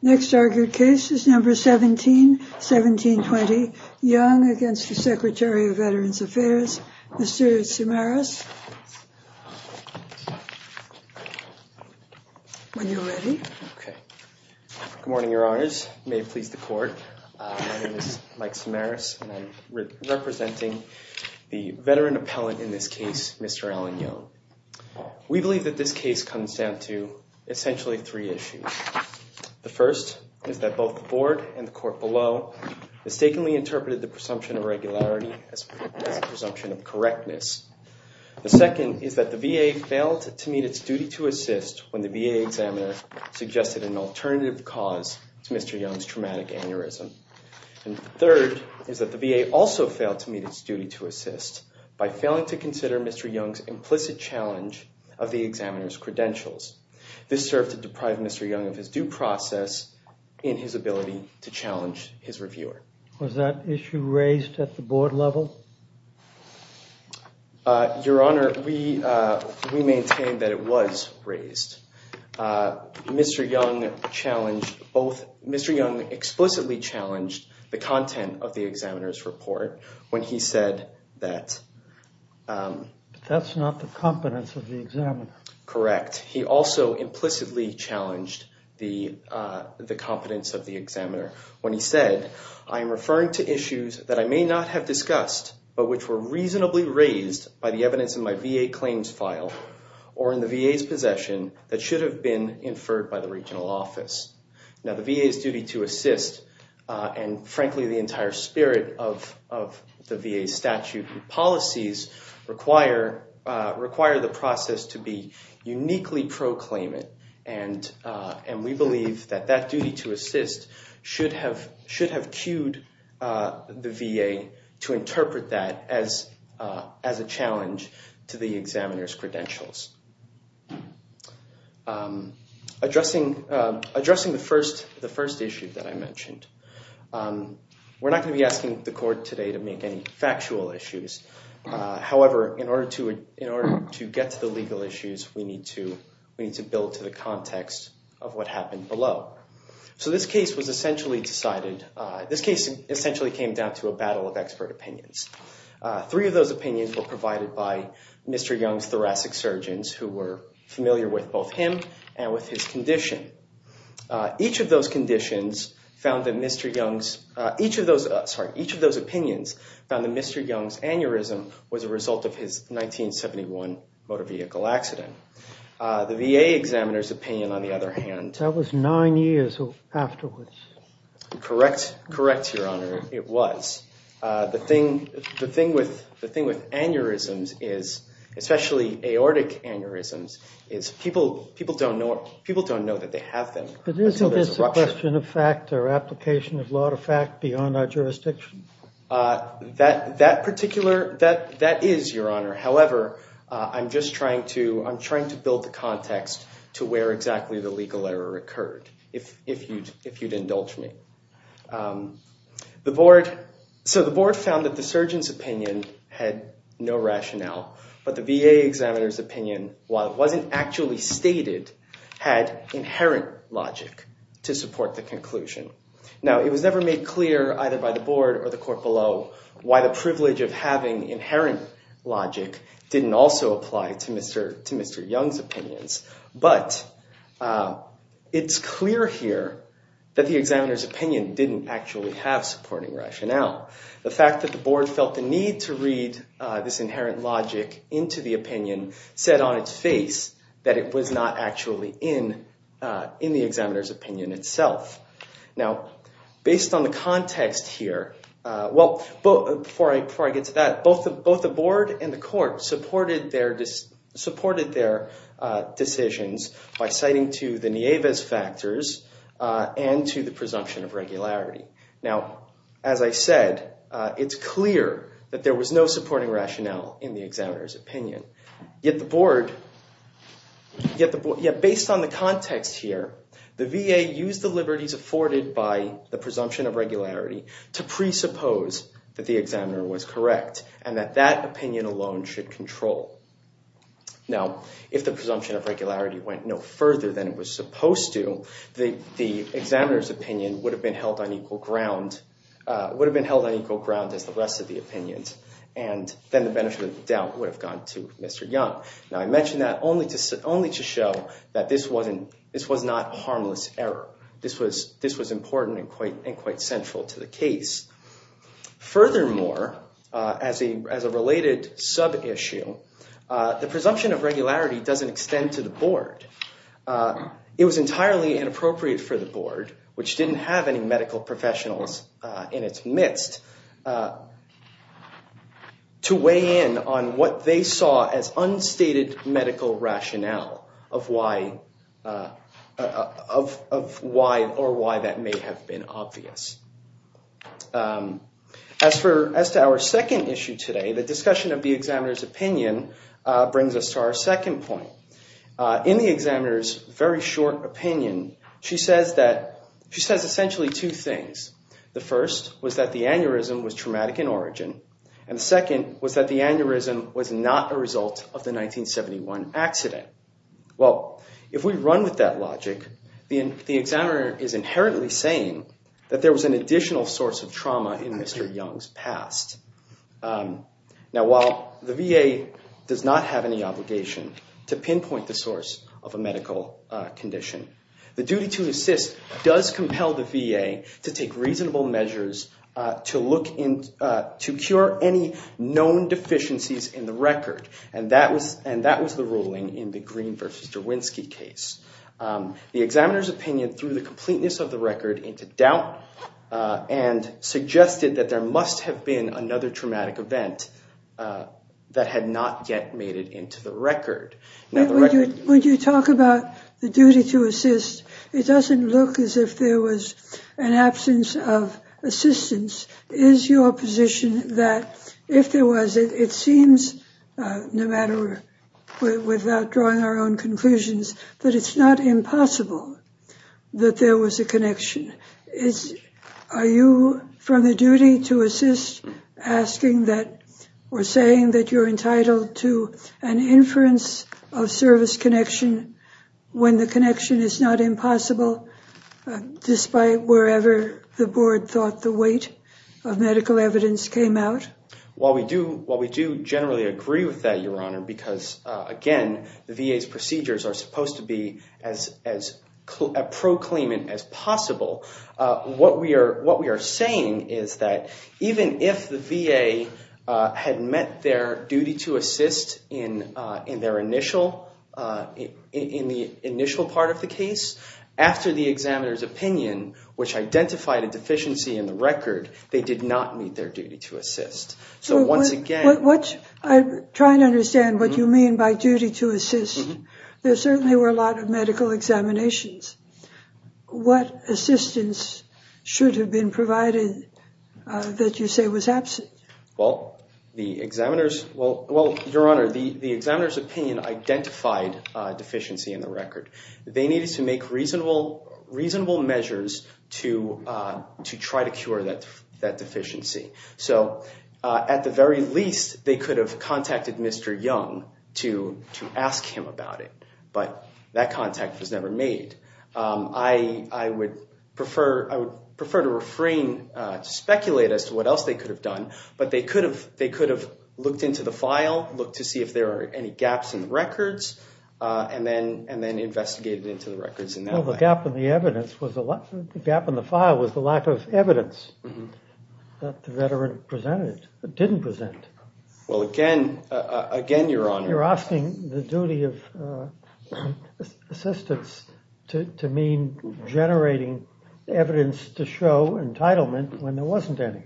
Next argued case is number 17, 1720 Young against the Secretary of Veterans Affairs, Mr. Samaras. When you're ready. Okay. Good morning, your honors. May it please the court. My name is Mike Samaras and I'm representing the veteran appellant in this case, Mr. Alan Young. We believe that this case comes down to essentially three issues. The first is that both the board and the court below mistakenly interpreted the presumption of regularity as a presumption of correctness. The second is that the VA failed to meet its duty to assist when the VA examiner suggested an alternative cause to Mr. Young's traumatic aneurysm. And third is that the VA also failed to meet its duty to assist by failing to consider Mr. Young's implicit challenge of the examiner's credentials. This served to deprive Mr. Young of his due process in his ability to challenge his reviewer. Was that issue raised at the board level? Your honor, we maintain that it was raised. Mr. Young challenged both. Mr. Young explicitly challenged the content of the examiner's report when he said that. But that's not the competence of the examiner. Correct. He also implicitly challenged the competence of the examiner when he said, I am referring to issues that I may not have discussed but which were reasonably raised by the evidence in my VA claims file or in the VA's possession that should have been inferred by the regional office. Now the VA's duty to assist and frankly the entire spirit of the VA statute policies require the process to be uniquely proclaimant. And we believe that that duty to assist should have queued the VA to interpret that as a challenge to the examiner's credentials. Addressing the first issue that I mentioned, we're not going to be asking the court today to make any factual issues. However, in order to get to the legal issues, we need to build to the context of what happened below. So this case was essentially decided, this case essentially came down to a battle of expert opinions. Three of those opinions were provided by Mr. Young's thoracic surgeons who were familiar with both him and with his condition. Each of those conditions found that Mr. Young's, each of those, sorry, each of those opinions found that Mr. Young's aneurysm was a result of his 1971 motor vehicle accident. The VA examiner's opinion on the other hand. That was nine years afterwards. Correct, correct your honor, it was. The thing, the thing with aneurysms is, especially aortic aneurysms, is people don't know, people don't know that they have them. But isn't this a question of fact or application of law to fact beyond our jurisdiction? That particular, that is your honor. However, I'm just trying to, I'm trying to build the context to where exactly the legal error occurred, if you'd indulge me. The board, so the board found that the surgeon's opinion had no rationale. But the VA examiner's opinion, while it wasn't actually stated, had inherent logic to support the conclusion. Now, it was never made clear either by the board or the court below why the privilege of having inherent logic didn't also apply to Mr. Young's opinions. But it's clear here that the examiner's didn't actually have supporting rationale. The fact that the board felt the need to read this inherent logic into the opinion said on its face that it was not actually in the examiner's opinion itself. Now, based on the context here, well, before I get to that, both the board and the court supported their, supported their decisions by citing to the Nieves factors and to the presumption of regularity. Now, as I said, it's clear that there was no supporting rationale in the examiner's opinion. Yet the board, yet the, yeah, based on the context here, the VA used the liberties afforded by the presumption of regularity to presuppose that the examiner was correct and that that opinion alone should control. Now, if the presumption of regularity went no further than it was supposed to, the examiner's opinion would have been held on equal ground, would have been held on equal ground as the rest of the opinions. And then the benefit of the doubt would have gone to Mr. Young. Now, I mentioned that only to, only to show that this wasn't, this was not harmless error. This was, this was important and quite, and quite central to the case. Furthermore, as a, as a related sub issue, the presumption of regularity doesn't extend to the board. It was entirely inappropriate for the board, which didn't have any medical professionals in its midst, to weigh in on what they saw as unstated medical rationale of why, of why or why that may have been obvious. As for, as to our second issue today, the discussion of the examiner's opinion brings us to our second point. In the examiner's very short opinion, she says that, she says essentially two things. The first was that the aneurysm was traumatic in origin, and the second was that the aneurysm was not a result of the 1971 accident. Well, if we run with that logic, the examiner is inherently saying that there was an additional source of trauma in Mr. Young's past. Now, while the VA does not have any obligation to pinpoint the source of a medical condition, the duty to assist does compel the VA to take reasonable measures to look into, to cure any known deficiencies in the record, and that was, and that was the ruling in the Green versus Derwinski case. The examiner's opinion, through the completeness of the record, into doubt and suggested that there must have been another traumatic event that had not yet made it into the record. Now, the record... When you talk about the duty to assist, it doesn't look as if there was an absence of assistance. Is your position that if there was, it seems, no matter, without drawing our own that there was a connection? Is, are you from the duty to assist asking that, or saying that you're entitled to an inference of service connection when the connection is not impossible, despite wherever the board thought the weight of medical evidence came out? Well, we do, well, we do generally agree with that, Your Honor, because, again, the VA's claimant as possible. What we are, what we are saying is that even if the VA had met their duty to assist in, in their initial, in the initial part of the case, after the examiner's opinion, which identified a deficiency in the record, they did not meet their duty to assist. So once again... I'm trying to understand what you mean by duty to assist. There certainly were a lot of medical examinations. What assistance should have been provided that you say was absent? Well, the examiner's, well, well, Your Honor, the, the examiner's opinion identified a deficiency in the record. They needed to make reasonable, reasonable measures to, to try to cure that, that deficiency. So at the very least, they could have contacted Mr. Young to, to ask him about it. But that contact was never made. I, I would prefer, I would prefer to refrain to speculate as to what else they could have done, but they could have, they could have looked into the file, looked to see if there are any gaps in the records, and then, and then investigated into the records in that way. Well, the gap in the evidence was a lot, the gap in the file was the lack of evidence that the veteran presented, didn't present. Well, again, again, Your Honor... You're asking the duty of assistance to, to mean generating evidence to show entitlement when there wasn't any.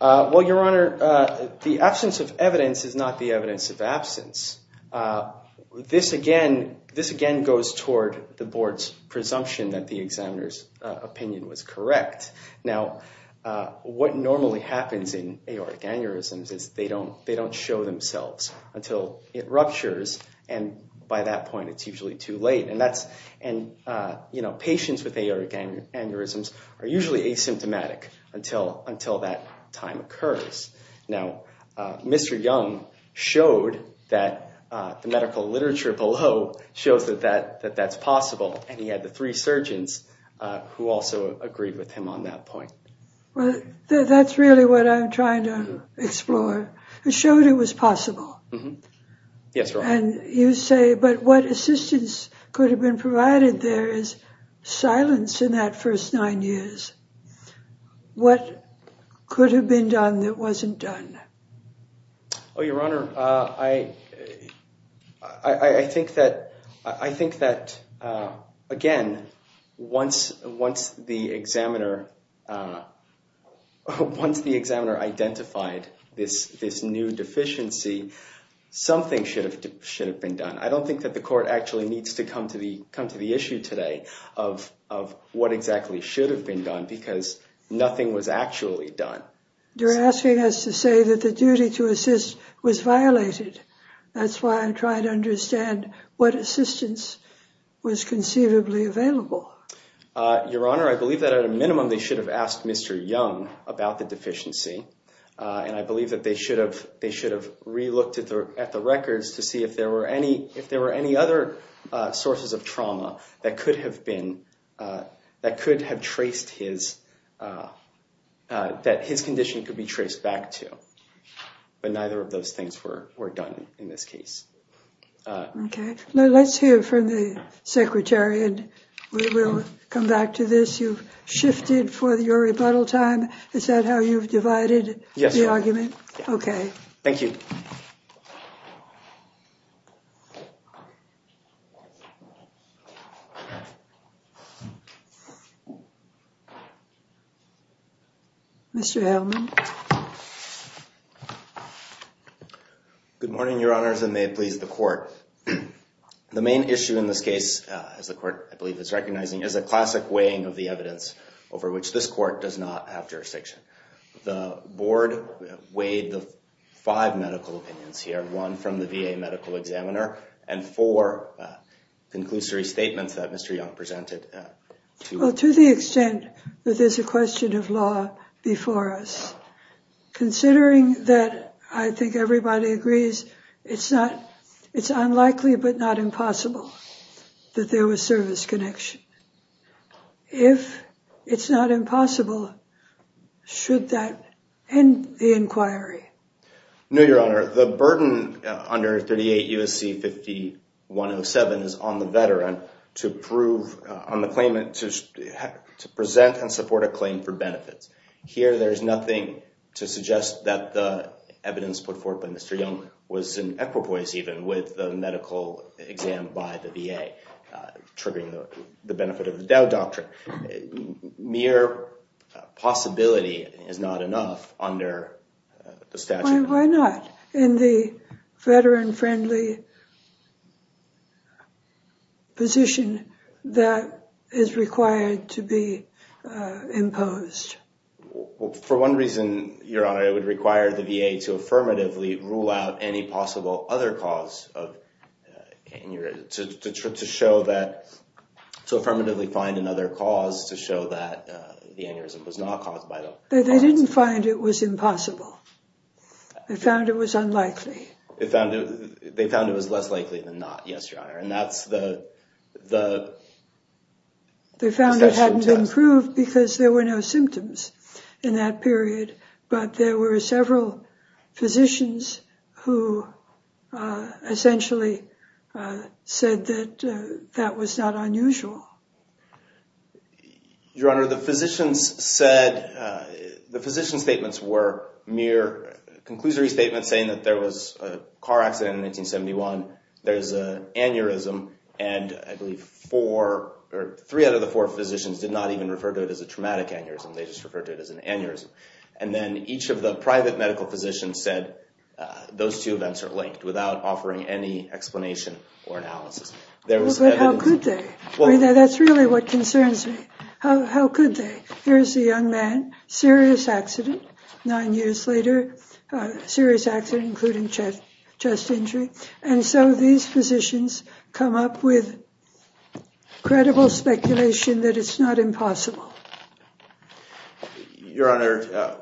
Well, Your Honor, the absence of evidence is not the evidence of absence. This again, this again goes toward the board's presumption that the examiner's opinion was until it ruptures, and by that point, it's usually too late. And that's, and, you know, patients with aortic aneurysms are usually asymptomatic until, until that time occurs. Now, Mr. Young showed that the medical literature below shows that that, that that's possible, and he had the three surgeons who also agreed with him on that point. Well, that's really what I'm exploring. He showed it was possible. Yes, Your Honor. And you say, but what assistance could have been provided there is silence in that first nine years. What could have been done that wasn't done? Oh, Your Honor, I, I think that, I think that again, once, once the examiner, once the examiner identified this, this new deficiency, something should have, should have been done. I don't think that the court actually needs to come to the, come to the issue today of, of what exactly should have been done because nothing was actually done. You're asking us to say that the duty to assist was violated. That's why I'm trying to understand what assistance was conceivably available. Your Honor, I believe that at a minimum, they should have asked Mr. Young about the deficiency. And I believe that they should have, they should have re-looked at the records to see if there were any, if there were any other sources of trauma that could have been, that could have traced his, that his condition could be traced back to. But neither of those things were done in this case. Okay. Let's hear from the Secretary and we will come back to this. You've shifted for your rebuttal time. Is that how you've divided the argument? Yes. Okay. Thank you. Mr. Hellman. Good morning, Your Honors, and may it please the court. The main issue in this case, as the court, I believe, is recognizing is a classic weighing of the evidence over which this court does not have jurisdiction. The board weighed the five medical opinions here, one from the VA medical examiner and four conclusory statements that Mr. Young presented. Well, to the extent that there's a question of law before us, considering that I think everybody agrees, it's not, it's unlikely, but not impossible that there was service connection. If it's not impossible, should that end the inquiry? No, Your Honor. The burden under 38 U.S.C. 5107 is on the veteran to prove on the claimant to present and support a claim for benefits. Here, there's nothing to suggest that the evidence put forward by Mr. Young was in equipoise even with the medical exam by the VA, triggering the benefit of the Dow Doctrine. Mere possibility is not enough under the statute. Why not? In the veteran-friendly position, that is required to be imposed. For one reason, Your Honor, it would require the VA to affirmatively rule out any possible other cause of aneurysm, to affirmatively find another cause to show that the aneurysm was not possible. They found it was unlikely. They found it was less likely than not, yes, Your Honor, and that's the... They found it hadn't been proved because there were no symptoms in that period, but there were several physicians who essentially said that that was not unusual. Your Honor, the physicians said... The physician statements were mere conclusory statements saying that there was a car accident in 1971, there's an aneurysm, and I believe four or three out of the four physicians did not even refer to it as a traumatic aneurysm. They just referred to it as an aneurysm. And then each of the private medical physicians said those two events are linked without offering any explanation or analysis. But how could they? That's really what concerns me. How could they? Here's a young man, serious accident, nine years later, serious accident, including chest injury, and so these physicians come up with credible speculation that it's not impossible. Your Honor,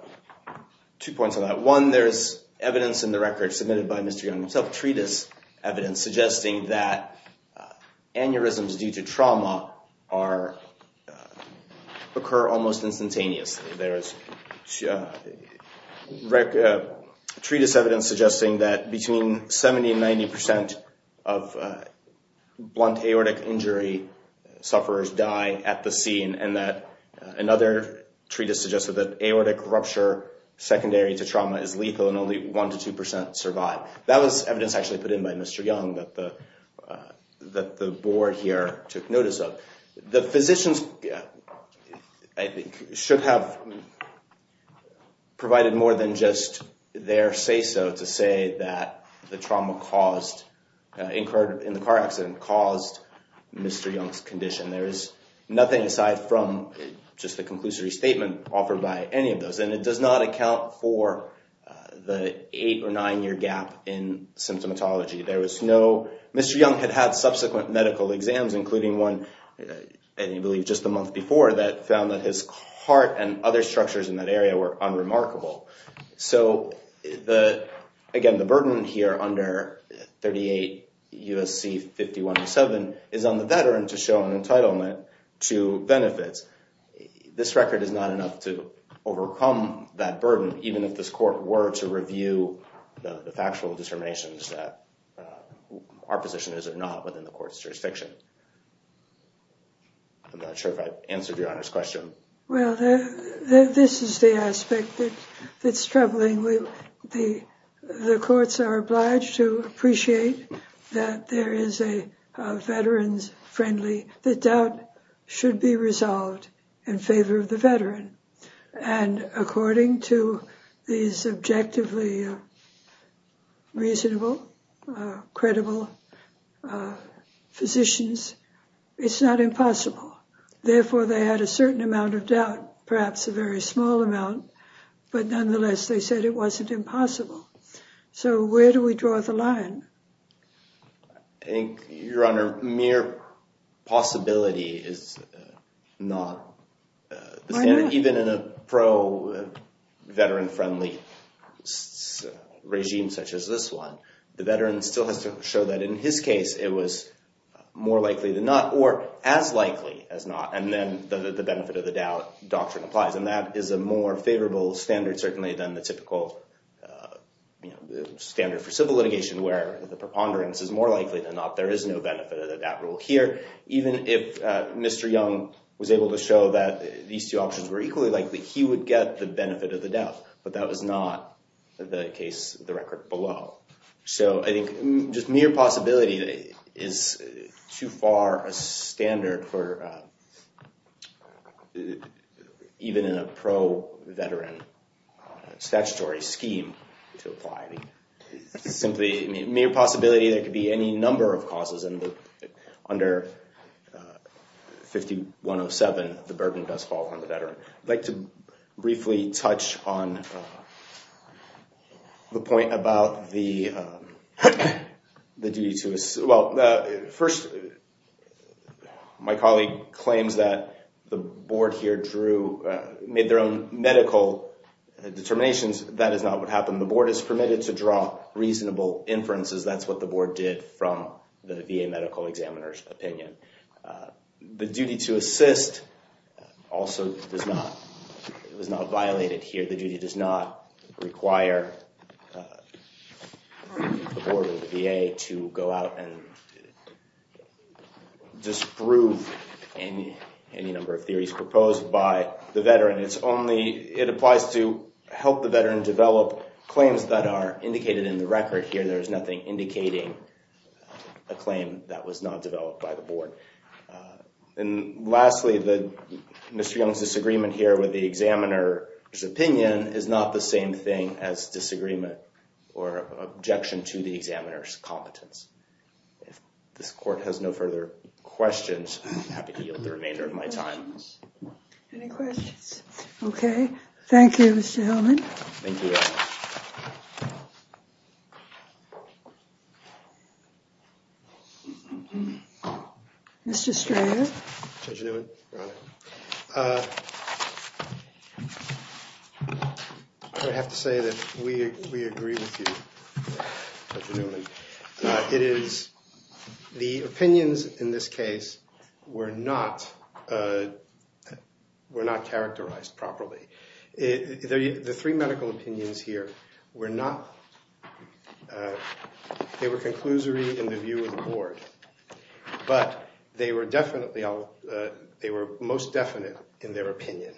two points on that. One, there's evidence in the record submitted by Mr. Young treatise evidence suggesting that aneurysms due to trauma occur almost instantaneously. There is treatise evidence suggesting that between 70 and 90% of blunt aortic injury sufferers die at the scene, and that another treatise suggested that aortic rupture secondary to trauma is lethal and only 1% to 2% survive. That was evidence actually put in by Mr. Young that the board here took notice of. The physicians, I think, should have provided more than just their say-so to say that the trauma caused, incurred in the car accident, caused Mr. Young's condition. There is nothing aside from just the conclusory statement offered by any of those, and it does not account for the eight or nine-year gap in symptomatology. Mr. Young had had subsequent medical exams, including one, I believe, just a month before that found that his heart and other structures in that area were unremarkable. Again, the burden here under 38 U.S.C. 5107 is on the veteran to show an entitlement to benefits. This record is not enough to overcome that burden, even if this court were to review the factual determinations that our position is or not within the court's jurisdiction. I'm not sure if I've answered your Honor's question. Well, this is the aspect that's troubling. The courts are obliged to appreciate that there is a veterans-friendly, that doubt should be resolved in favor of the veteran. And according to these objectively reasonable, credible physicians, it's not impossible. Therefore, they had a certain amount of doubt, perhaps a very small amount, but nonetheless, they said it wasn't impossible. So where do we draw the line? I think, Your Honor, mere possibility is not the standard. Even in a pro-veteran-friendly regime such as this one, the veteran still has to show that in his case it was more likely than not or as likely as not. And then the benefit of the doubt doctrine applies. And that is a more favorable standard, certainly, than the typical standard for civil litigation, where the preponderance is more likely than not. There is no benefit of the doubt rule here. Even if Mr. Young was able to show that these two options were equally likely, he would get the benefit of the doubt. But that was not the case, the record below. So I think just mere possibility is too far a standard for even in a pro-veteran statutory scheme to apply. It's simply a mere possibility. There could be any number of causes. Under 5107, the burden does fall on the veteran. I'd like to briefly touch on the point about the duty to assist. Well, first, my colleague claims that the Board here drew, made their own medical determinations. That is not what happened. The Board is permitted to draw reasonable inferences. That's what the Board did from the VA medical examiner's opinion. The duty to assist also was not violated here. The duty does not require the Board or the VA to go out and disprove any number of theories proposed by the veteran. It applies to help the veteran develop claims that are indicated in the record here. There was not developed by the Board. And lastly, Mr. Young's disagreement here with the examiner's opinion is not the same thing as disagreement or objection to the examiner's competence. If this Court has no further questions, I'm happy to yield the remainder of my time. Any questions? Okay. Thank you, Mr. Hillman. Mr. Strayer. I would have to say that we agree with you, Dr. Newman. It is, the opinions in this case were not, were not characterized properly. The three medical opinions here were not, they were conclusory in the view of the Board, but they were definitely, they were most definite in their opinion.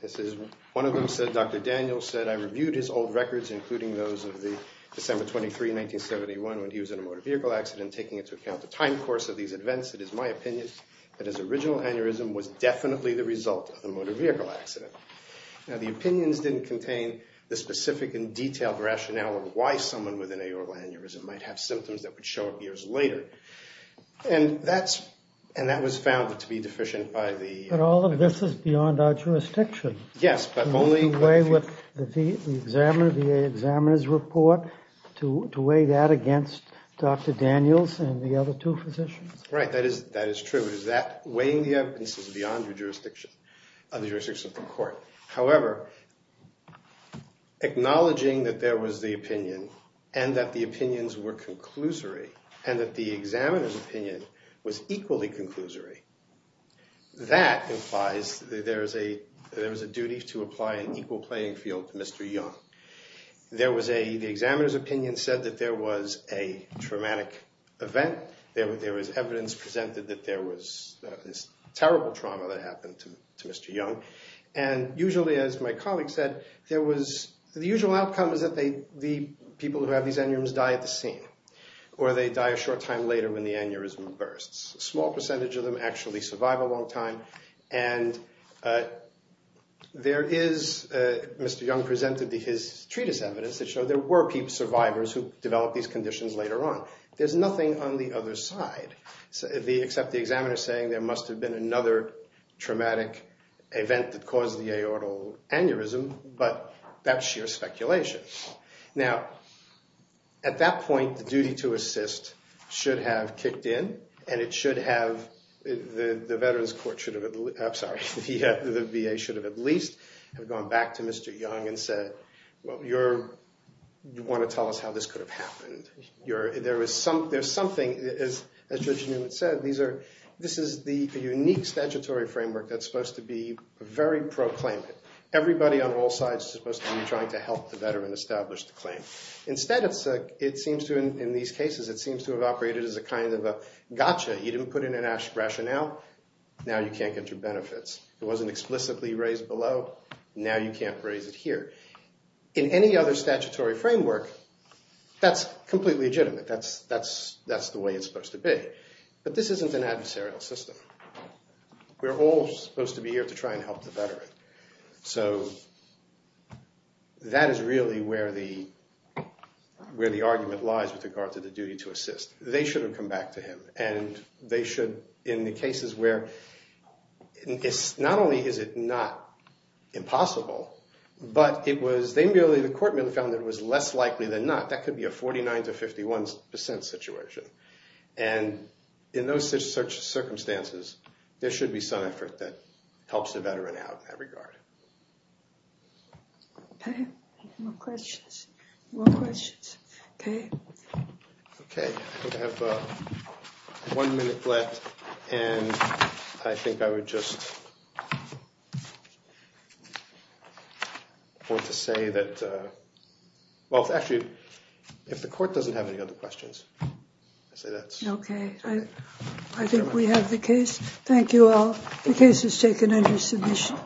This is, one of them said, Dr. Daniels said, I reviewed his old records, including those of the December 23, 1971, when he was in a motor vehicle accident, taking into account the time course of these events. It is my opinion that his original aneurysm was definitely the result of the motor vehicle accident. Now, the opinions didn't contain the specific and detailed rationale of why someone with an aoral aneurysm might have symptoms that would show up years later. And that's, and that was found to be deficient by the... But all of this is beyond our jurisdiction. Yes, but only... The examiner, the examiner's report, to weigh that against Dr. Daniels and the other two physicians? Right, that is, that is true. It is that, weighing the evidence is beyond your jurisdiction, of the jurisdiction of the court. However, acknowledging that there was the opinion, and that the opinions were conclusory, and that the examiner's opinion was equally conclusory, that implies that there is a, there is a duty to apply an equal playing field to Mr. Young. There was a, the examiner's opinion said that there was a traumatic event. There was evidence presented that there was this terrible trauma that happened to Mr. Young. And usually, as my colleague said, there was, the usual outcome is that they, the people who have these aneurysms die at the scene, or they die a short time later when the aneurysm bursts. A small percentage of them actually survive a long time. And there is, Mr. Young presented his treatise evidence that showed there were survivors who developed these conditions later on. There's nothing on the other side, except the examiner saying there must have been another traumatic event that caused the aortal aneurysm, but that's sheer speculation. Now, at that point, the duty to assist should have kicked in, and it should have, the Veterans Court should have, I'm sorry, the VA should have at least have gone back to Mr. Young and said, well, you're, you want to tell us how this could have happened. You're, there was some, there's something, as Judge Newman said, these are, this is the unique statutory framework that's supposed to be very pro-claimant. Everybody on all sides is supposed to be trying to help the veteran establish the claim. Instead, it seems to, in these cases, it seems to have operated as a kind of a gotcha. You didn't put in an rationale, now you can't get your benefits. It wasn't explicitly raised below, now you can't raise it here. In any other statutory framework, that's completely legitimate. That's the way it's supposed to be. But this isn't an adversarial system. We're all supposed to be here to try and help the veteran. So that is really where the, where the argument lies with regard to the duty to assist. They should have come back to him, and they should, in the cases where it's, not only is it not impossible, but it was, they merely, the court merely found that it was less likely than not, that could be a 49 to 51 percent situation. And in those such circumstances, there should be some effort that helps the veteran out in that regard. Okay, more questions? Okay. Okay, I have one minute left, and I think I would just want to say that, well, actually, if the court doesn't have any other questions, I say that's okay. I think we have the case. Thank you all. The case is taken under submission.